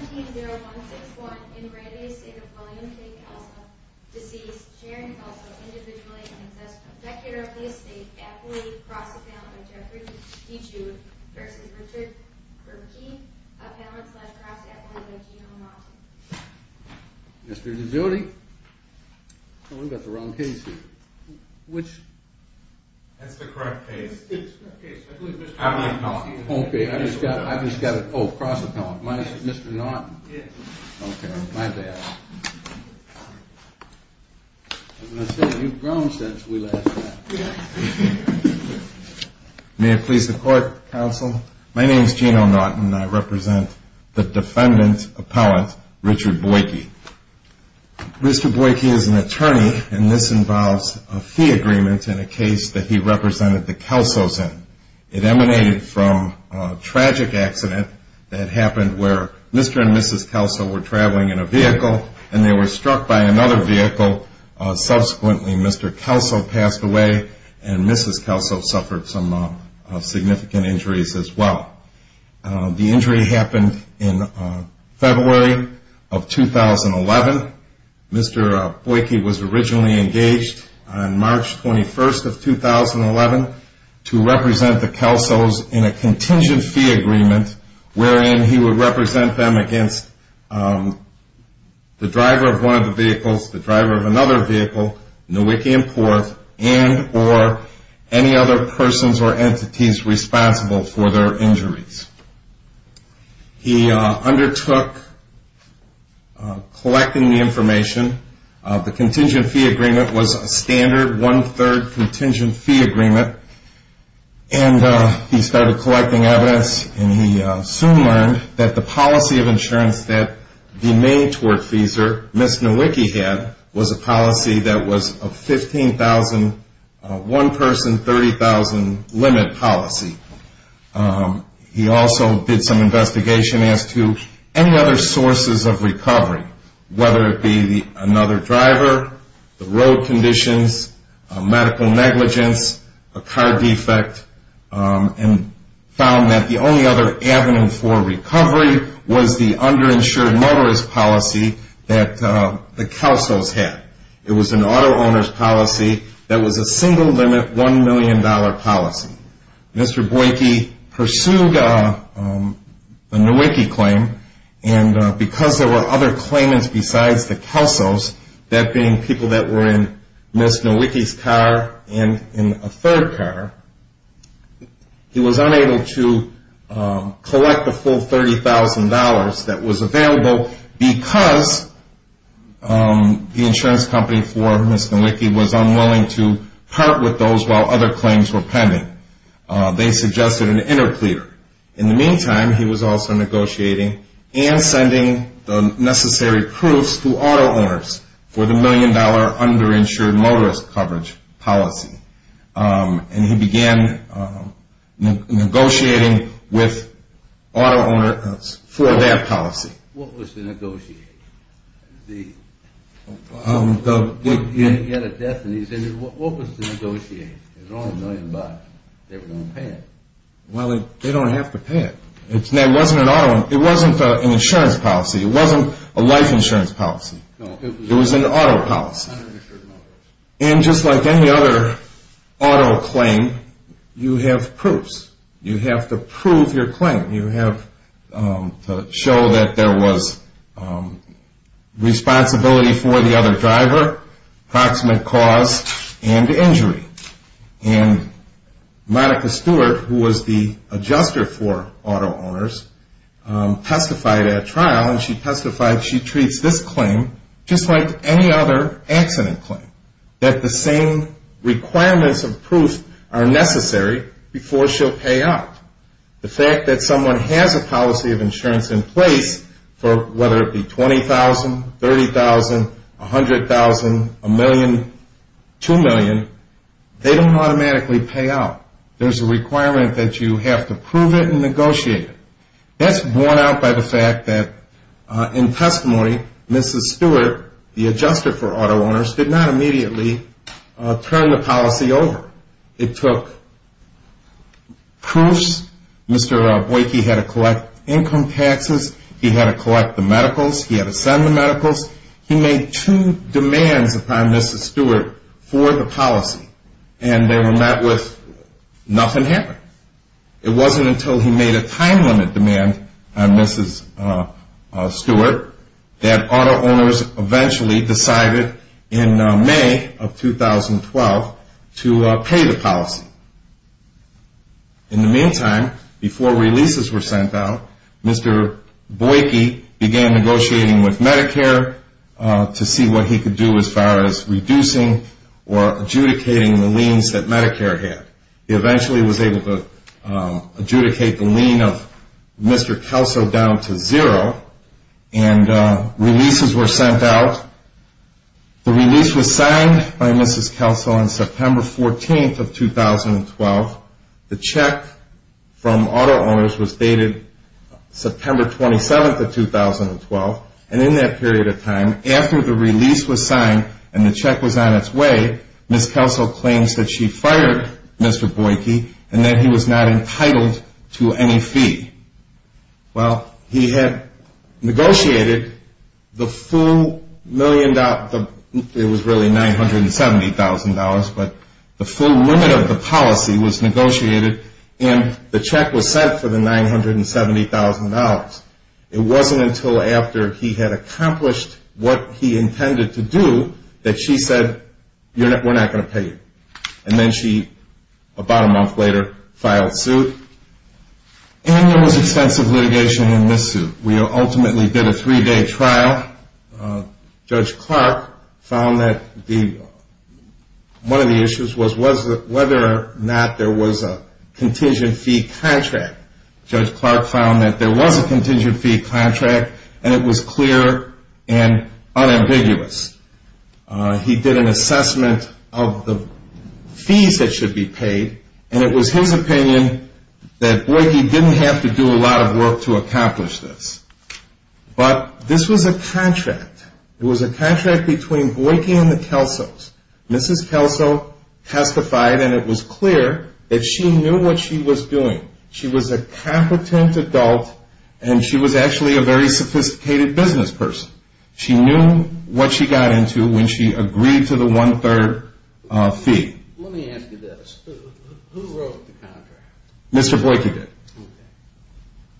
17-0-1-6-1. In Randy Estate of William K. Kelso, deceased, Sharon Kelso, Individually Unaccessible. Dictator of the Estate, Appellate, Cross-Appellant by Jeffrey DeJude vs. Richard Burkey, Appellant slash Cross-Appellant by Gino Monti. Mr. DeJude? We've got the wrong case here. Which? That's the correct case. Okay, I've just got it. I've just got it. Oh, Cross-Appellant. My name is Mr. Norton. Okay, my bad. As I said, you've grown since we last met. May it please the Court, Counsel? My name is Gino Norton, and I represent the Defendant Appellant, Richard Burkey. Mr. Burkey is an attorney, and this involves a fee agreement in a case that he represented the Kelsos in. It emanated from a tragic accident that happened where Mr. and Mrs. Kelso were traveling in a vehicle, and they were struck by another vehicle. Subsequently, Mr. Kelso passed away, and Mrs. Kelso suffered some significant injuries as well. The injury happened in February of 2011. Mr. Burkey was originally engaged on March 21st of 2011 to represent the Kelsos in a contingent fee agreement, wherein he would represent them against the driver of one of the vehicles, the driver of another vehicle, Nowicki and Porth, and or any other persons or entities responsible for their injuries. He undertook collecting the information. The contingent fee agreement was a standard one-third contingent fee agreement, and he started collecting evidence, and he soon learned that the policy of insurance that he made toward Feezer, Ms. Nowicki had, was a policy that was a 15,000, one-person, 30,000 limit policy. He also did some investigation as to any other sources of recovery, whether it be another driver, the road conditions, medical negligence, a car defect, and found that the only other avenue for recovery was the underinsured motorist policy that the Kelsos had. It was an auto owner's policy that was a single-limit $1 million policy. Mr. Burkey pursued the Nowicki claim, and because there were other claimants besides the Kelsos, that being people that were in Ms. Nowicki's car and in a third car, he was unable to collect the full $30,000 that was available because the insurance company for Ms. Nowicki was unwilling to part with those while other claims were pending. They suggested an interpleader. In the meantime, he was also negotiating and sending the necessary proofs to auto owners for the $1 million underinsured motorist coverage policy. And he began negotiating with auto owners for that policy. What was the negotiation? He had a death, and he said, what was the negotiation? It was only $1 million. They were going to pay it. Well, they don't have to pay it. It wasn't an insurance policy. It wasn't a life insurance policy. It was an auto policy. And just like any other auto claim, you have proofs. You have to prove your claim. You have to show that there was responsibility for the other driver, approximate cause, and injury. And Monica Stewart, who was the adjuster for auto owners, testified at a trial, and she testified she treats this claim just like any other accident claim, that the same requirements of proof are necessary before she'll pay out. The fact that someone has a policy of insurance in place for whether it be $20,000, $30,000, $100,000, $1 million, $2 million, they don't automatically pay out. There's a requirement that you have to prove it and negotiate it. That's borne out by the fact that in testimony, Mrs. Stewart, the adjuster for auto owners, did not immediately turn the policy over. It took proofs. Mr. Boyke had to collect income taxes. He had to collect the medicals. He had to send the medicals. He made two demands upon Mrs. Stewart for the policy, and they were met with nothing happened. It wasn't until he made a time limit demand on Mrs. Stewart that auto owners eventually decided in May of 2012 to pay the policy. In the meantime, before releases were sent out, Mr. Boyke began negotiating with Medicare to see what he could do as far as reducing or adjudicating the liens that Medicare had. He eventually was able to adjudicate the lien of Mr. Kelso down to zero, and releases were sent out. The release was signed by Mrs. Kelso on September 14th of 2012. The check from auto owners was dated September 27th of 2012, and in that period of time, after the release was signed and the check was on its way, Mrs. Kelso claims that she fired Mr. Boyke and that he was not entitled to any fee. Well, he had negotiated the full million dollars, it was really $970,000, but the full limit of the policy was negotiated, and the check was sent for the $970,000. It wasn't until after he had accomplished what he intended to do that she said, we're not going to pay you. And then she, about a month later, filed suit, and there was extensive litigation in this suit. We ultimately did a three-day trial. Judge Clark found that one of the issues was whether or not there was a contingent fee contract. Judge Clark found that there was a contingent fee contract, and it was clear and unambiguous. He did an assessment of the fees that should be paid, and it was his opinion that Boyke didn't have to do a lot of work to accomplish this. But this was a contract. It was a contract between Boyke and the Kelsos. Mrs. Kelso testified, and it was clear that she knew what she was doing. She was a competent adult, and she was actually a very sophisticated business person. She knew what she got into when she agreed to the one-third fee. Let me ask you this. Who wrote the contract? Mr. Boyke did. Okay.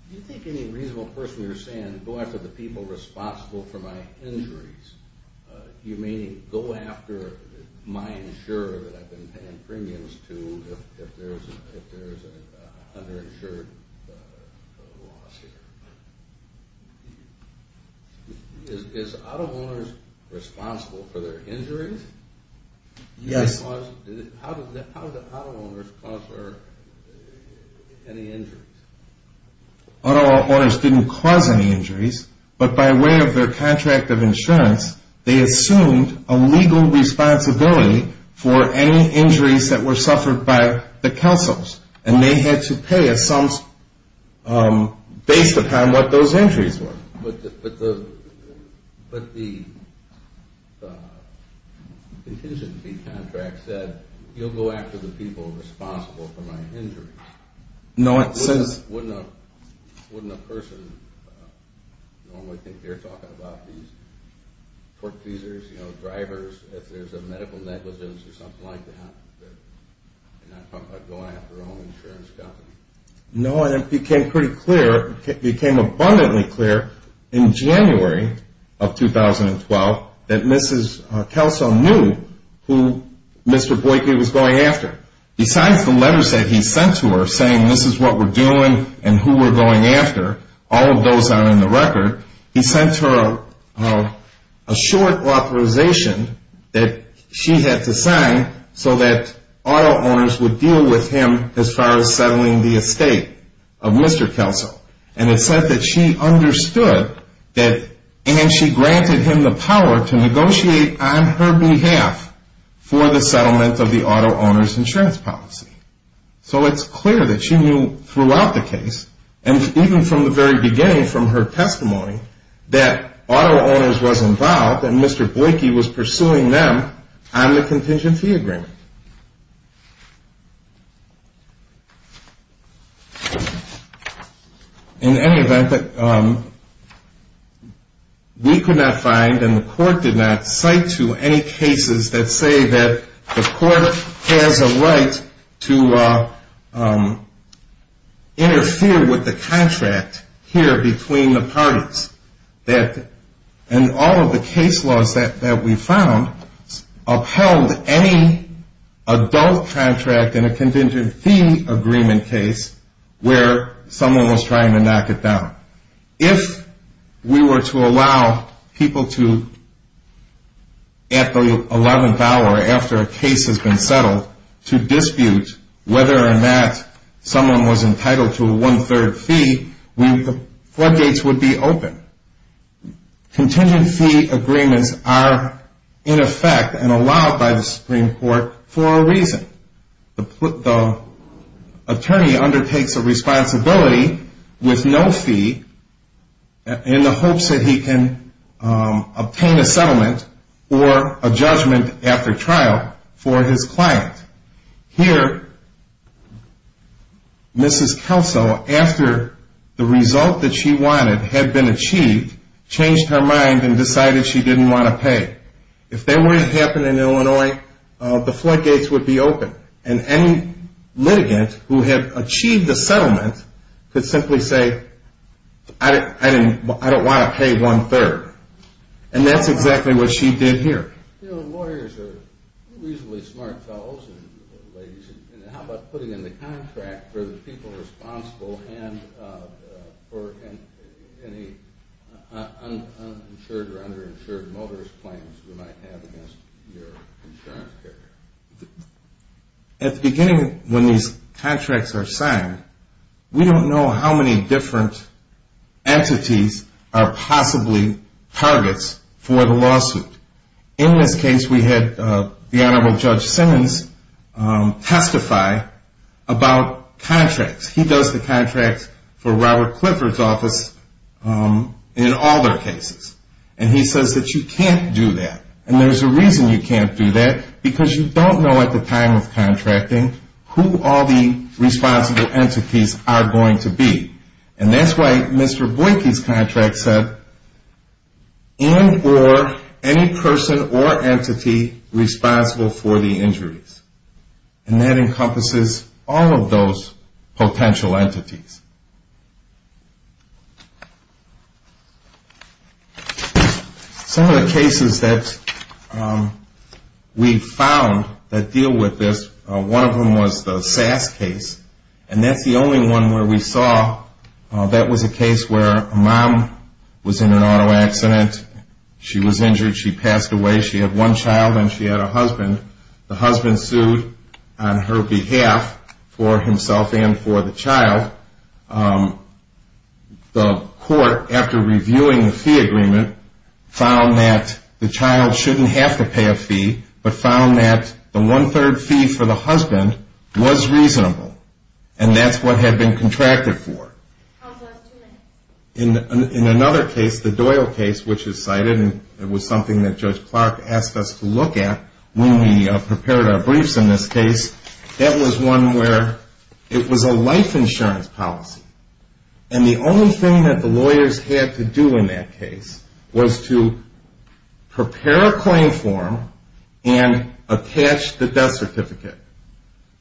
Do you think any reasonable person would say, go after the people responsible for my injuries, meaning go after my insurer that I've been paying premiums to if there's an underinsured loss here? Is auto owners responsible for their injuries? Yes. How did the auto owners cause any injuries? Auto owners didn't cause any injuries, but by way of their contract of insurance, they assumed a legal responsibility for any injuries that were suffered by the Kelsos, and they had to pay a sum based upon what those injuries were. But the contingency contract said, you'll go after the people responsible for my injuries. Wouldn't a person normally think they're talking about these torque teasers, you know, drivers, if there's a medical negligence or something like that? They're not talking about going after an insurance company. No, and it became pretty clear, it became abundantly clear in January of 2012 that Mrs. Kelso knew who Mr. Boyke was going after. Besides the letters that he sent to her saying this is what we're doing and who we're going after, all of those are in the record, he sent her a short authorization that she had to sign so that auto owners would deal with him as far as settling the estate of Mr. Kelso. And it said that she understood that, and she granted him the power to negotiate on her behalf for the settlement of the auto owner's insurance policy. So it's clear that she knew throughout the case, and even from the very beginning from her testimony, that auto owners was involved and Mr. Boyke was pursuing them on the contingency agreement. In any event, we could not find and the court did not cite to any cases that say that the court has a right to interfere with the contract here between the parties. And all of the case laws that we found upheld any adult contract in a contingency agreement case where someone was trying to knock it down. If we were to allow people to, at the 11th hour after a case has been settled, to dispute whether or not someone was entitled to a one-third fee, the floodgates would be open. Contingency agreements are in effect and allowed by the Supreme Court for a reason. The attorney undertakes a responsibility with no fee in the hopes that he can obtain a settlement or a judgment after trial for his client. Here, Mrs. Kelso, after the result that she wanted had been achieved, changed her mind and decided she didn't want to pay. If that were to happen in Illinois, the floodgates would be open. And any litigant who had achieved the settlement could simply say, I don't want to pay one-third. And that's exactly what she did here. Lawyers are reasonably smart fellows and ladies. How about putting in the contract for the people responsible and for any uninsured or underinsured motorist claims you might have against your insurance carrier? At the beginning, when these contracts are signed, we don't know how many different entities are possibly targets for the lawsuit. In this case, we had the Honorable Judge Simmons testify about contracts. He does the contracts for Robert Clifford's office in all their cases. And he says that you can't do that. And there's a reason you can't do that, because you don't know at the time of contracting who all the responsible entities are going to be. And that's why Mr. Boyke's contract said, and or any person or entity responsible for the injuries. And that encompasses all of those potential entities. Some of the cases that we found that deal with this, one of them was the SASS case. And that's the only one where we saw that was a case where a mom was in an auto accident. She was injured. She passed away. She had one child and she had a husband. The husband sued on her behalf for himself and for the child. The court, after reviewing the fee agreement, found that the child shouldn't have to pay a fee, but found that the one-third fee for the husband was reasonable. And that's what had been contracted for. In another case, the Doyle case, which is cited, and it was something that Judge Clark asked us to look at when we prepared our briefs in this case, that was one where it was a life insurance policy. And the only thing that the lawyers had to do in that case was to prepare a claim form and attach the death certificate.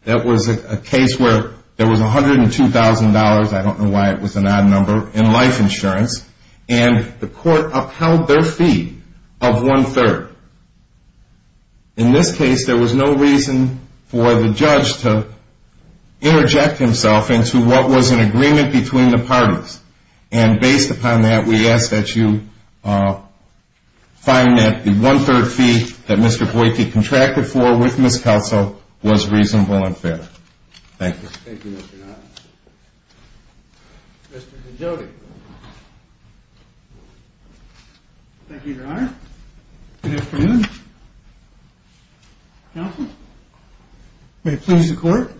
That was a case where there was $102,000, I don't know why it was an odd number, in life insurance, and the court upheld their fee of one-third. In this case, there was no reason for the judge to interject himself into what was an agreement between the parties. And based upon that, we ask that you find that the one-third fee that Mr. Boyke contracted for with Ms. Kelso was reasonable and fair. Thank you. Thank you, Mr. Doyle. Mr. Cagioti. Thank you, Your Honor. Good afternoon. Counsel? May it please the Court.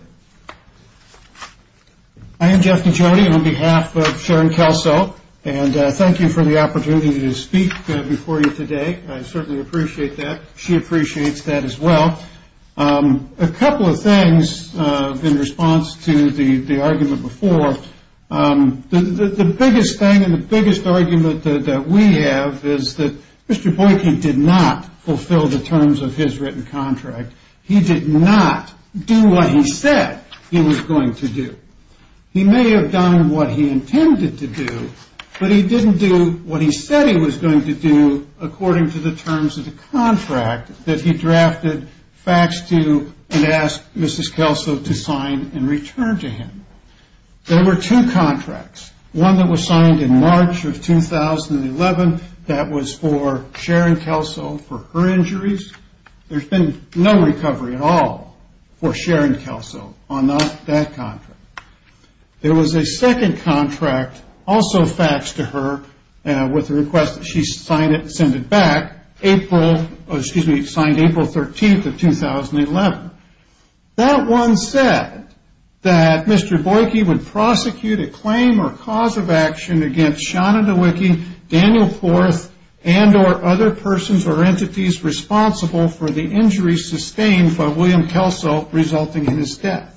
I am Jeff Cagioti on behalf of Sharon Kelso, and thank you for the opportunity to speak before you today. I certainly appreciate that. She appreciates that as well. A couple of things in response to the argument before. The biggest thing and the biggest argument that we have is that Mr. Boyke did not fulfill the terms of his written contract. He did not do what he said he was going to do. He may have done what he intended to do, but he didn't do what he said he was going to do according to the terms of the contract that he drafted facts to and asked Mrs. Kelso to sign and return to him. There were two contracts. One that was signed in March of 2011. That was for Sharon Kelso for her injuries. There's been no recovery at all for Sharon Kelso on that contract. There was a second contract also faxed to her with a request that she sign it and send it back April, excuse me, signed April 13th of 2011. That one said that Mr. Boyke would prosecute a claim or cause of action against Shana Nowicki, Daniel Forth, and or other persons or entities responsible for the injuries sustained by William Kelso resulting in his death.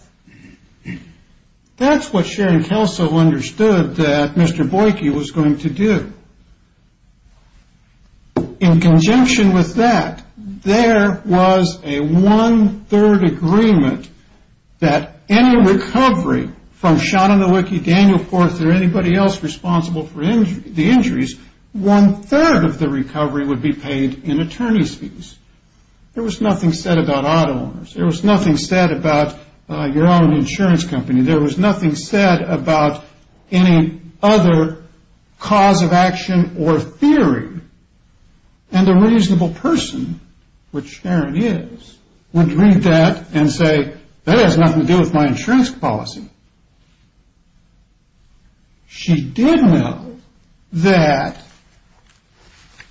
That's what Sharon Kelso understood that Mr. Boyke was going to do. In conjunction with that, there was a one-third agreement that any recovery from Shana Nowicki, Daniel Forth, or anybody else responsible for the injuries, one-third of the recovery would be paid in attorney's fees. There was nothing said about auto owners. There was nothing said about your own insurance company. There was nothing said about any other cause of action or theory. And the reasonable person, which Sharon is, would read that and say, that has nothing to do with my insurance policy. She did know that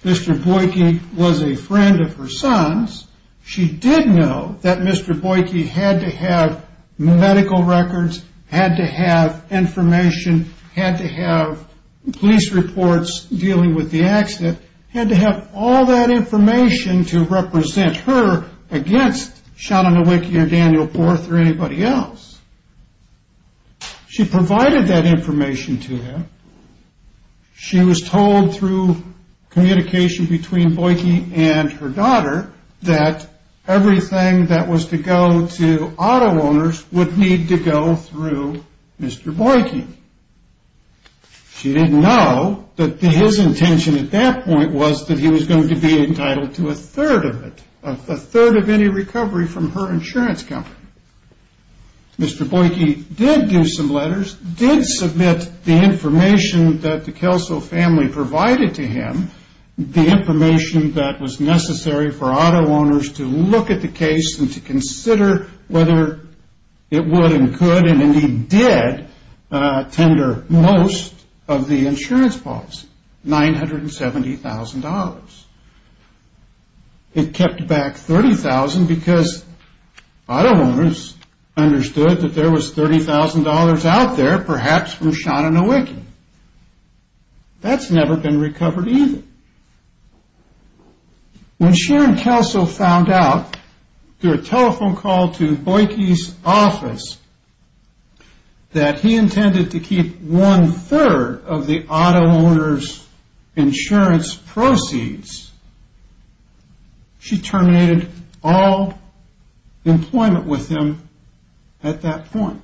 Mr. Boyke was a friend of her son's. She did know that Mr. Boyke had to have medical records, had to have information, had to have police reports dealing with the accident, had to have all that information to represent her against Shana Nowicki or Daniel Forth or anybody else. She provided that information to him. She was told through communication between Boyke and her daughter that everything that was to go to auto owners would need to go through Mr. Boyke. She didn't know that his intention at that point was that he was going to be entitled to a third of it, a third of any recovery from her insurance company. Mr. Boyke did do some letters, did submit the information that the Kelso family provided to him, the information that was necessary for auto owners to look at the case and to consider whether it would and could and indeed did tender most of the insurance policy, $970,000. It kept back $30,000 because auto owners understood that there was $30,000 out there, perhaps from Shana Nowicki. That's never been recovered either. When Sharon Kelso found out through a telephone call to Boyke's office that he intended to keep one-third of the auto owner's insurance proceeds, she terminated all employment with him at that point.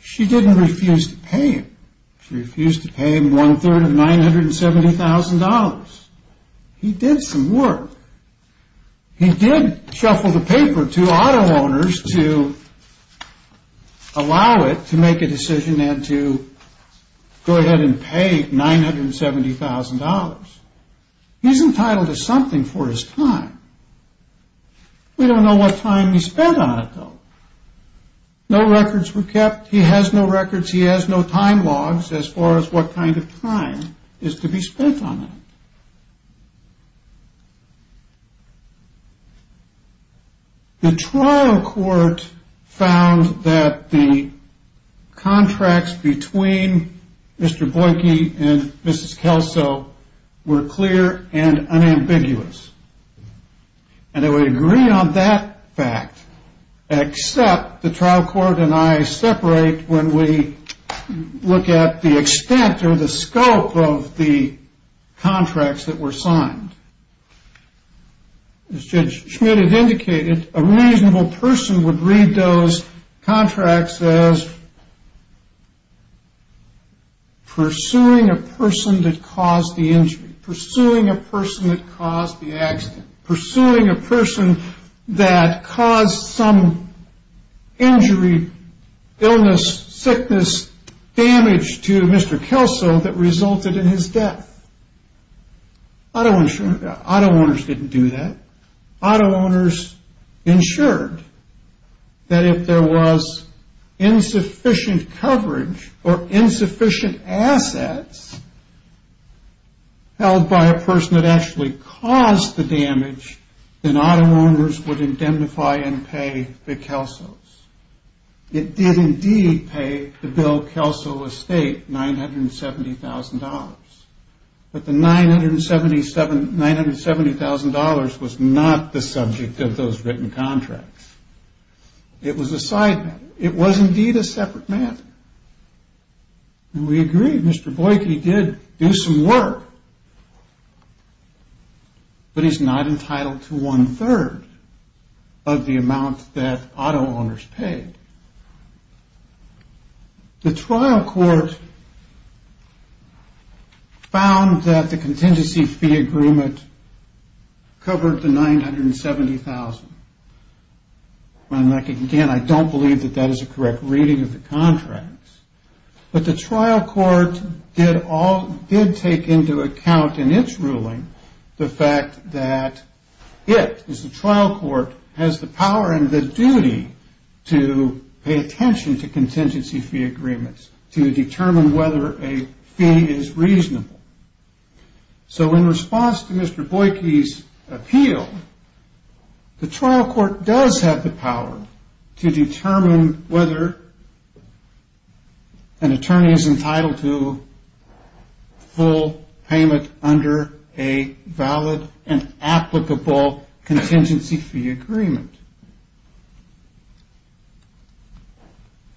She didn't refuse to pay him. She refused to pay him one-third of $970,000. He did some work. He did shuffle the paper to auto owners to allow it to make a decision and to go ahead and pay $970,000. He's entitled to something for his time. We don't know what time he spent on it, though. No records were kept. He has no records. He has no time logs as far as what kind of time is to be spent on it. The trial court found that the contracts between Mr. Boyke and Mrs. Kelso were clear and unambiguous, and they would agree on that fact except the trial court and I separate when we look at the extent or the scope of the contracts that were signed. As Judge Schmidt had indicated, a reasonable person would read those contracts as pursuing a person that caused the injury, pursuing a person that caused the accident, pursuing a person that caused some injury, illness, sickness, damage to Mr. Kelso that resulted in his death. Auto owners didn't do that. Auto owners ensured that if there was insufficient coverage or insufficient assets held by a person that actually caused the damage, then auto owners would indemnify and pay the Kelsos. It did indeed pay the bill Kelso Estate $970,000, but the $970,000 was not the subject of those written contracts. It was a side matter. It was indeed a separate matter. We agree Mr. Boyke did do some work, but he's not entitled to one-third of the amount that auto owners paid. The trial court found that the contingency fee agreement covered the $970,000. Again, I don't believe that that is a correct reading of the contracts, but the trial court did take into account in its ruling the fact that it, the trial court has the power and the duty to pay attention to contingency fee agreements to determine whether a fee is reasonable. So in response to Mr. Boyke's appeal, the trial court does have the power to determine whether an attorney is entitled to full payment under a valid and applicable contingency fee agreement.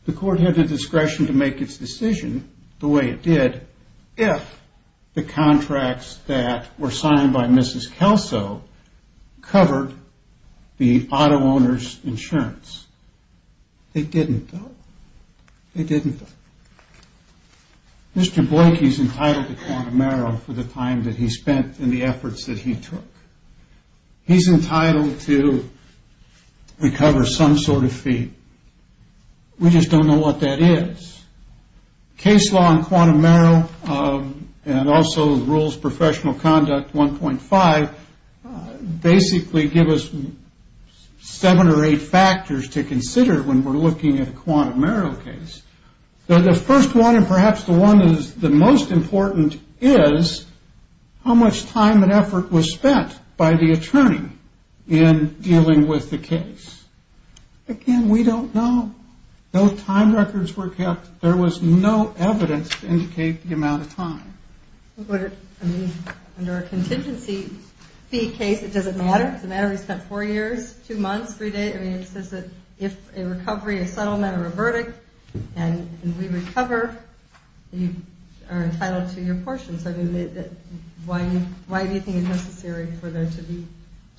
The court had the discretion to make its decision the way it did if the contracts that were signed by Mrs. Kelso covered the auto owner's insurance. They didn't though. They didn't though. Mr. Boyke is entitled to quantum Merrill for the time that he spent and the efforts that he took. He's entitled to recover some sort of fee. We just don't know what that is. Case law in quantum Merrill and also rules professional conduct 1.5 basically give us seven or eight factors to consider when we're looking at a quantum Merrill case. The first one and perhaps the one that is the most important is how much time and effort was spent by the attorney in dealing with the case. Again, we don't know. No time records were kept. There was no evidence to indicate the amount of time. Under a contingency fee case, does it matter? Does it matter if he spent four years, two months, three days? It says that if a recovery, a settlement, or a verdict and we recover, you are entitled to your portions. Why do you think it's necessary for there to be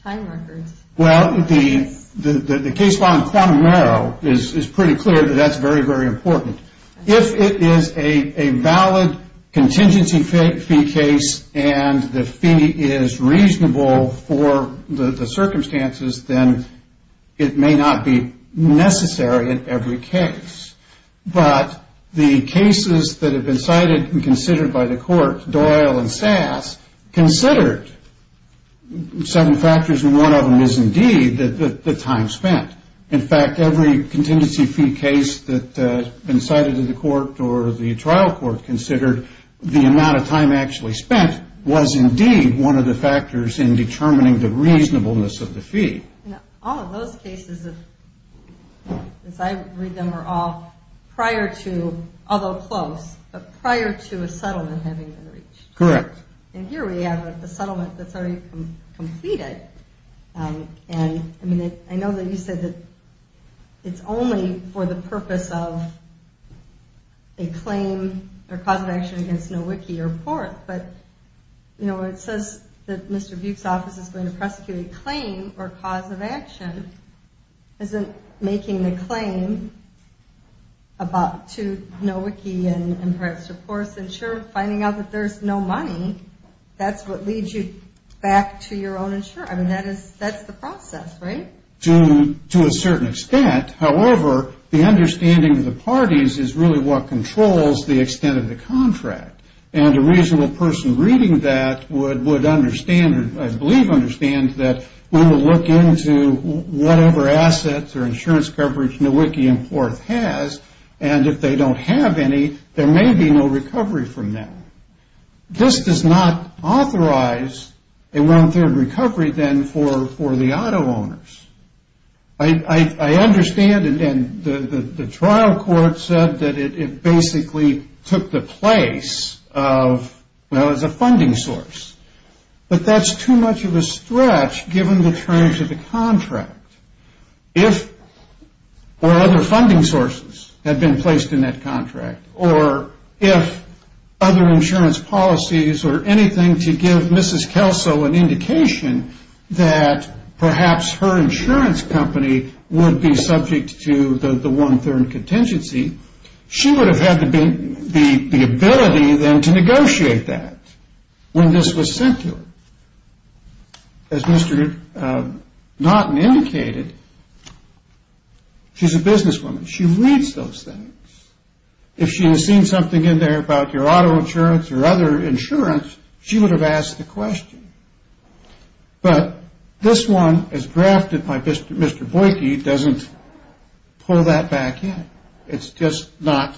time records? Well, the case law in quantum Merrill is pretty clear that that's very, very important. If it is a valid contingency fee case and the fee is reasonable for the circumstances, then it may not be necessary in every case. But the cases that have been cited and considered by the court, Doyle and Sass, considered seven factors and one of them is indeed the time spent. In fact, every contingency fee case that has been cited in the court or the trial court considered, the amount of time actually spent was indeed one of the factors in determining the reasonableness of the fee. All of those cases, as I read them, were all prior to, although close, but prior to a settlement having been reached. Correct. And here we have a settlement that's already completed. And, I mean, I know that you said that it's only for the purpose of a claim or cause of action against Nowicki or Porth. But, you know, when it says that Mr. Buick's office is going to prosecute a claim or cause of action, isn't making the claim to Nowicki and Porth's insurer finding out that there's no money, that's what leads you back to your own insurer? I mean, that's the process, right? To a certain extent. However, the understanding of the parties is really what controls the extent of the contract. And a reasonable person reading that would understand, or I believe understand, that we will look into whatever assets or insurance coverage Nowicki and Porth has, and if they don't have any, there may be no recovery from them. This does not authorize a one-third recovery, then, for the auto owners. I understand, and the trial court said that it basically took the place of, well, as a funding source. But that's too much of a stretch given the terms of the contract. If other funding sources had been placed in that contract, or if other insurance policies or anything to give Mrs. Kelso an indication that perhaps her insurance company would be subject to the one-third contingency, she would have had the ability, then, to negotiate that when this was sent to her. As Mr. Naughton indicated, she's a businesswoman. She reads those things. If she had seen something in there about your auto insurance or other insurance, she would have asked the question. But this one, as drafted by Mr. Boyke, doesn't pull that back in. It's just not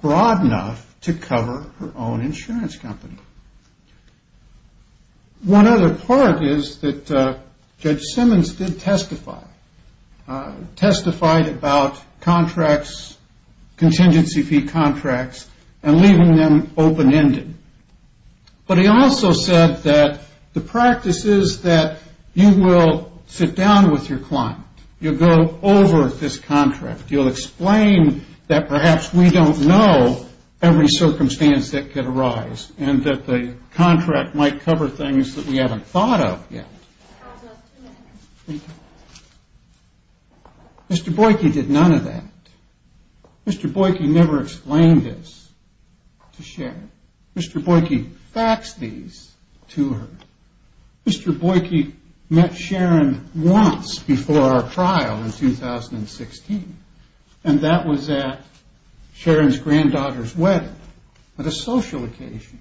broad enough to cover her own insurance company. One other part is that Judge Simmons did testify, testified about contracts, contingency fee contracts, and leaving them open-ended. But he also said that the practice is that you will sit down with your client. You'll go over this contract. You'll explain that perhaps we don't know every circumstance that could arise and that the contract might cover things that we haven't thought of yet. Mr. Boyke did none of that. Mr. Boyke never explained this to Sharon. Mr. Boyke faxed these to her. Mr. Boyke met Sharon once before our trial in 2016, and that was at Sharon's granddaughter's wedding, at a social occasion.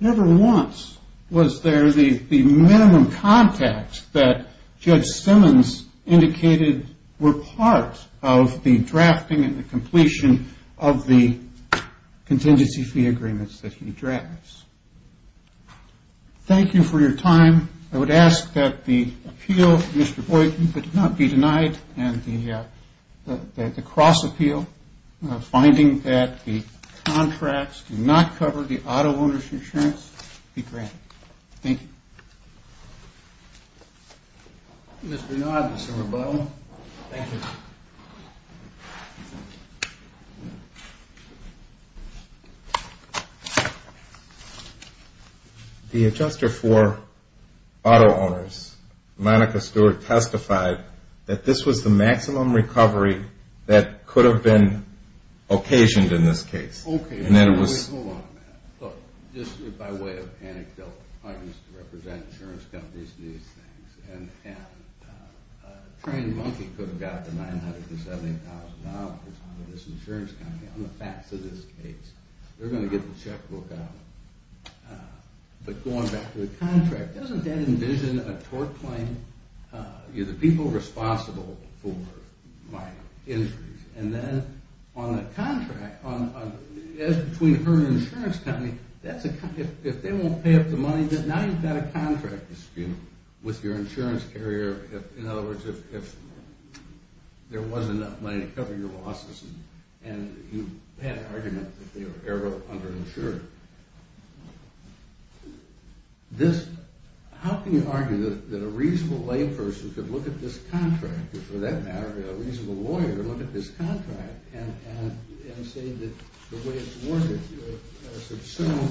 Never once was there the minimum contact that Judge Simmons indicated were part of the drafting and the completion of the contingency fee agreements that he drafts. Thank you for your time. I would ask that the appeal, Mr. Boyke, not be denied, and the cross-appeal, finding that the contracts do not cover the auto owner's insurance, be granted. Thank you. Mr. Nod, Mr. Rebuttal. Thank you. The adjuster for auto owners, Monica Stewart, testified that this was the maximum recovery that could have been occasioned in this case. Okay. Hold on a minute. Look, just by way of anecdotes, I used to represent insurance companies in these things, and a trained monkey could have gotten $970,000 out of this insurance company on the facts of this case. They're going to get the checkbook out. But going back to the contract, doesn't that envision a tort claim? Are the people responsible for minor injuries? And then on the contract, between her and the insurance company, if they won't pay up the money, now you've got a contract dispute with your insurance carrier. In other words, if there wasn't enough money to cover your losses and you had an argument that they were underinsured. How can you argue that a reasonable layperson could look at this contract, or for that matter, a reasonable lawyer, look at this contract and say that the way it's worded here, assume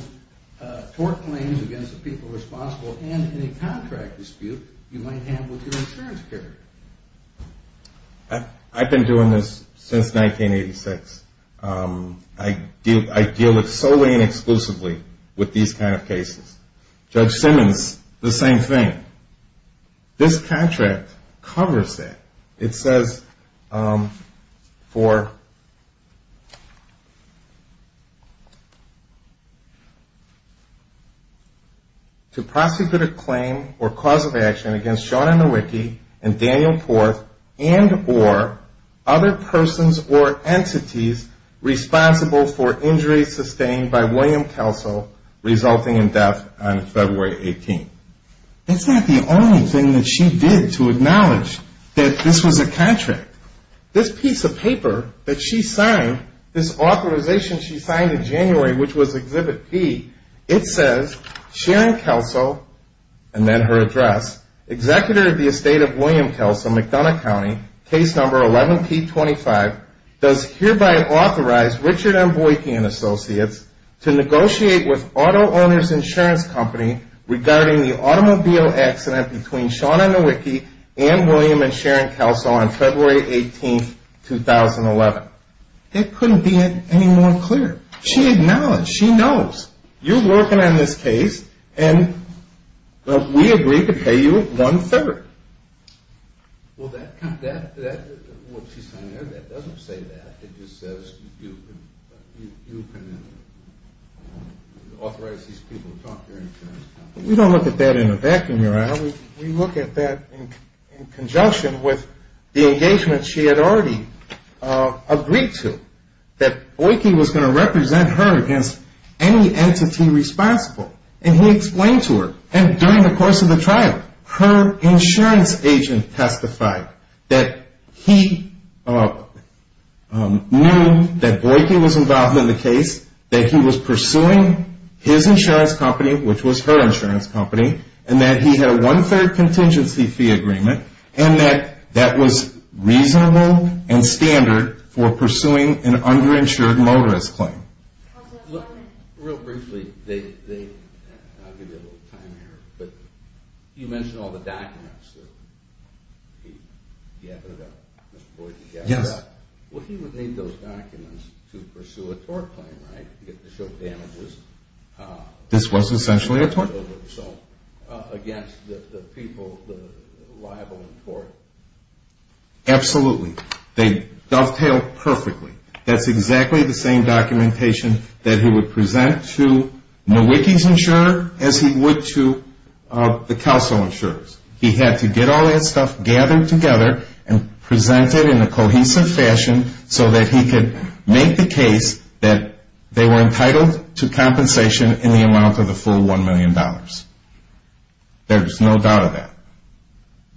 tort claims against the people responsible and any contract dispute you might have with your insurance carrier. I've been doing this since 1986. I deal solely and exclusively with these kind of cases. Judge Simmons, the same thing. This contract covers that. It says, To prosecute a claim or cause of action against Sean Nowicki and Daniel Porth and or other persons or entities responsible for injuries sustained by William Kelso resulting in death on February 18. It's not the only thing that she did to acknowledge that this was a contract. This piece of paper that she signed, this authorization she signed in January, which was Exhibit P, it says, regarding the automobile accident between Sean Nowicki and William and Sharon Kelso on February 18, 2011. It couldn't be any more clear. She acknowledged. She knows. You're working on this case, and we agree to pay you one-third. Well, that, what she's saying there, that doesn't say that. It just says you can authorize these people to talk to her. We don't look at that in a vacuum, Your Honor. We look at that in conjunction with the engagement she had already agreed to, that Nowicki was going to represent her against any entity responsible. And he explained to her, and during the course of the trial, her insurance agent testified that he knew that Nowicki was involved in the case, that he was pursuing his insurance company, which was her insurance company, and that he had a one-third contingency fee agreement, and that that was reasonable and standard for pursuing an underinsured motorist claim. Real briefly, they, I'm going to give you a little time here, but you mentioned all the documents that he gathered up, Mr. Boykin gathered up. Yes. Well, he would need those documents to pursue a tort claim, right, to show damages? This was essentially a tort. So against the people liable in tort. Absolutely. They dovetail perfectly. That's exactly the same documentation that he would present to Nowicki's insurer as he would to the counsel insurer's. He had to get all that stuff gathered together and present it in a cohesive fashion so that he could make the case that they were entitled to compensation in the amount of the full $1 million. There's no doubt of that.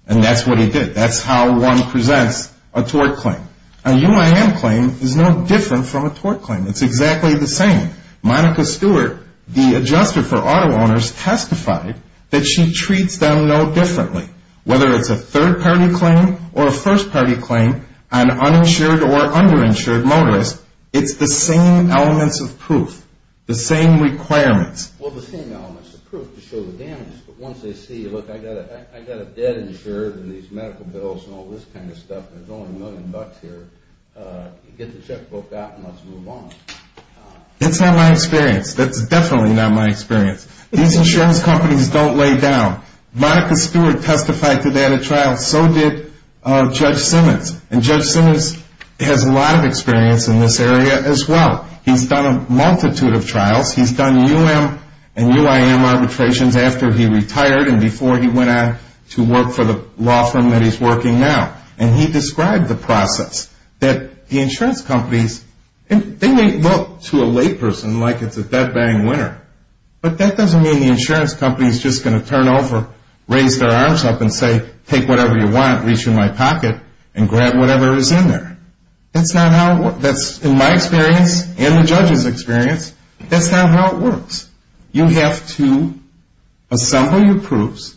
And that's what he did. That's how one presents a tort claim. A UIM claim is no different from a tort claim. It's exactly the same. Monica Stewart, the adjuster for auto owners, testified that she treats them no differently. Whether it's a third-party claim or a first-party claim, an uninsured or underinsured motorist, it's the same elements of proof, the same requirements. Well, the same elements of proof to show the damage. But once they see, look, I've got a dead insured and these medical bills and all this kind of stuff and there's only a million bucks here, get the checkbook out and let's move on. It's not my experience. That's definitely not my experience. These insurance companies don't lay down. Monica Stewart testified today at a trial. So did Judge Simmons. And Judge Simmons has a lot of experience in this area as well. He's done a multitude of trials. He's done UIM and UIM arbitrations after he retired and before he went on to work for the law firm that he's working now. And he described the process that the insurance companies, and they may look to a layperson like it's a dead-bang winner, but that doesn't mean the insurance company is just going to turn over, raise their arms up and say, take whatever you want, reach in my pocket and grab whatever is in there. That's not how it works. In my experience and the judge's experience, that's not how it works. You have to assemble your proofs,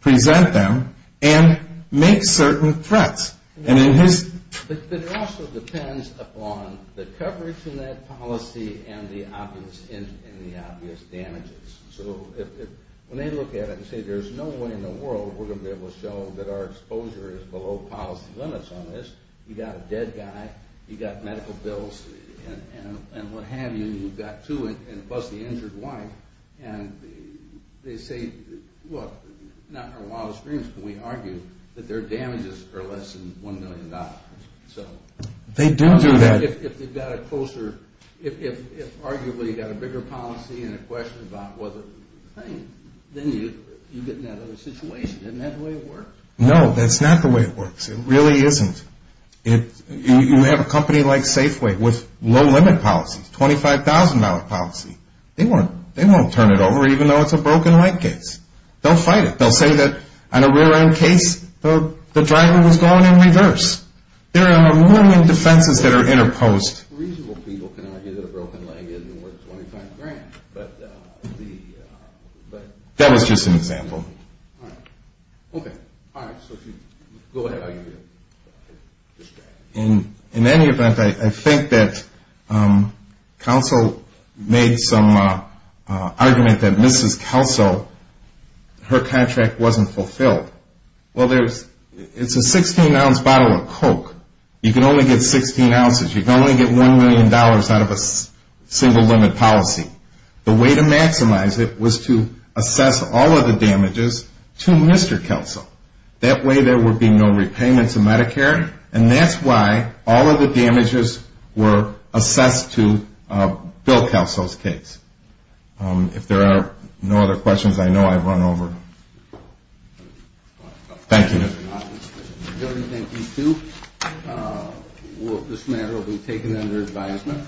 present them, and make certain threats. But it also depends upon the coverage in that policy and the obvious damages. So when they look at it and say there's no way in the world we're going to be able to show that our exposure is below policy limits on this, you've got a dead guy, you've got medical bills and what have you, and you've got two and plus the injured wife. And they say, look, not in our wildest dreams can we argue that their damages are less than $1 million. They do do that. If they've got a closer, if arguably you've got a bigger policy and a question about whether it's a thing, then you get in that other situation. Isn't that the way it works? No, that's not the way it works. It really isn't. You have a company like Safeway with low-limit policies, $25,000 policy. They won't turn it over even though it's a broken leg case. They'll fight it. They'll say that on a rear-end case, the driver was going in reverse. There are a million defenses that are interposed. That was just an example. In any event, I think that Kelso made some argument that Mrs. Kelso, her contract wasn't fulfilled. Well, it's a 16-ounce bottle of Coke. You can only get 16 ounces. You can only get $1 million out of a single-limit policy. The way to maximize it was to assess all of the damages to Mr. Kelso. That way there would be no repayments of Medicare, and that's why all of the damages were assessed to Bill Kelso's case. If there are no other questions, I know I've run over. Thank you. Thank you, too. This matter will be taken under advisement.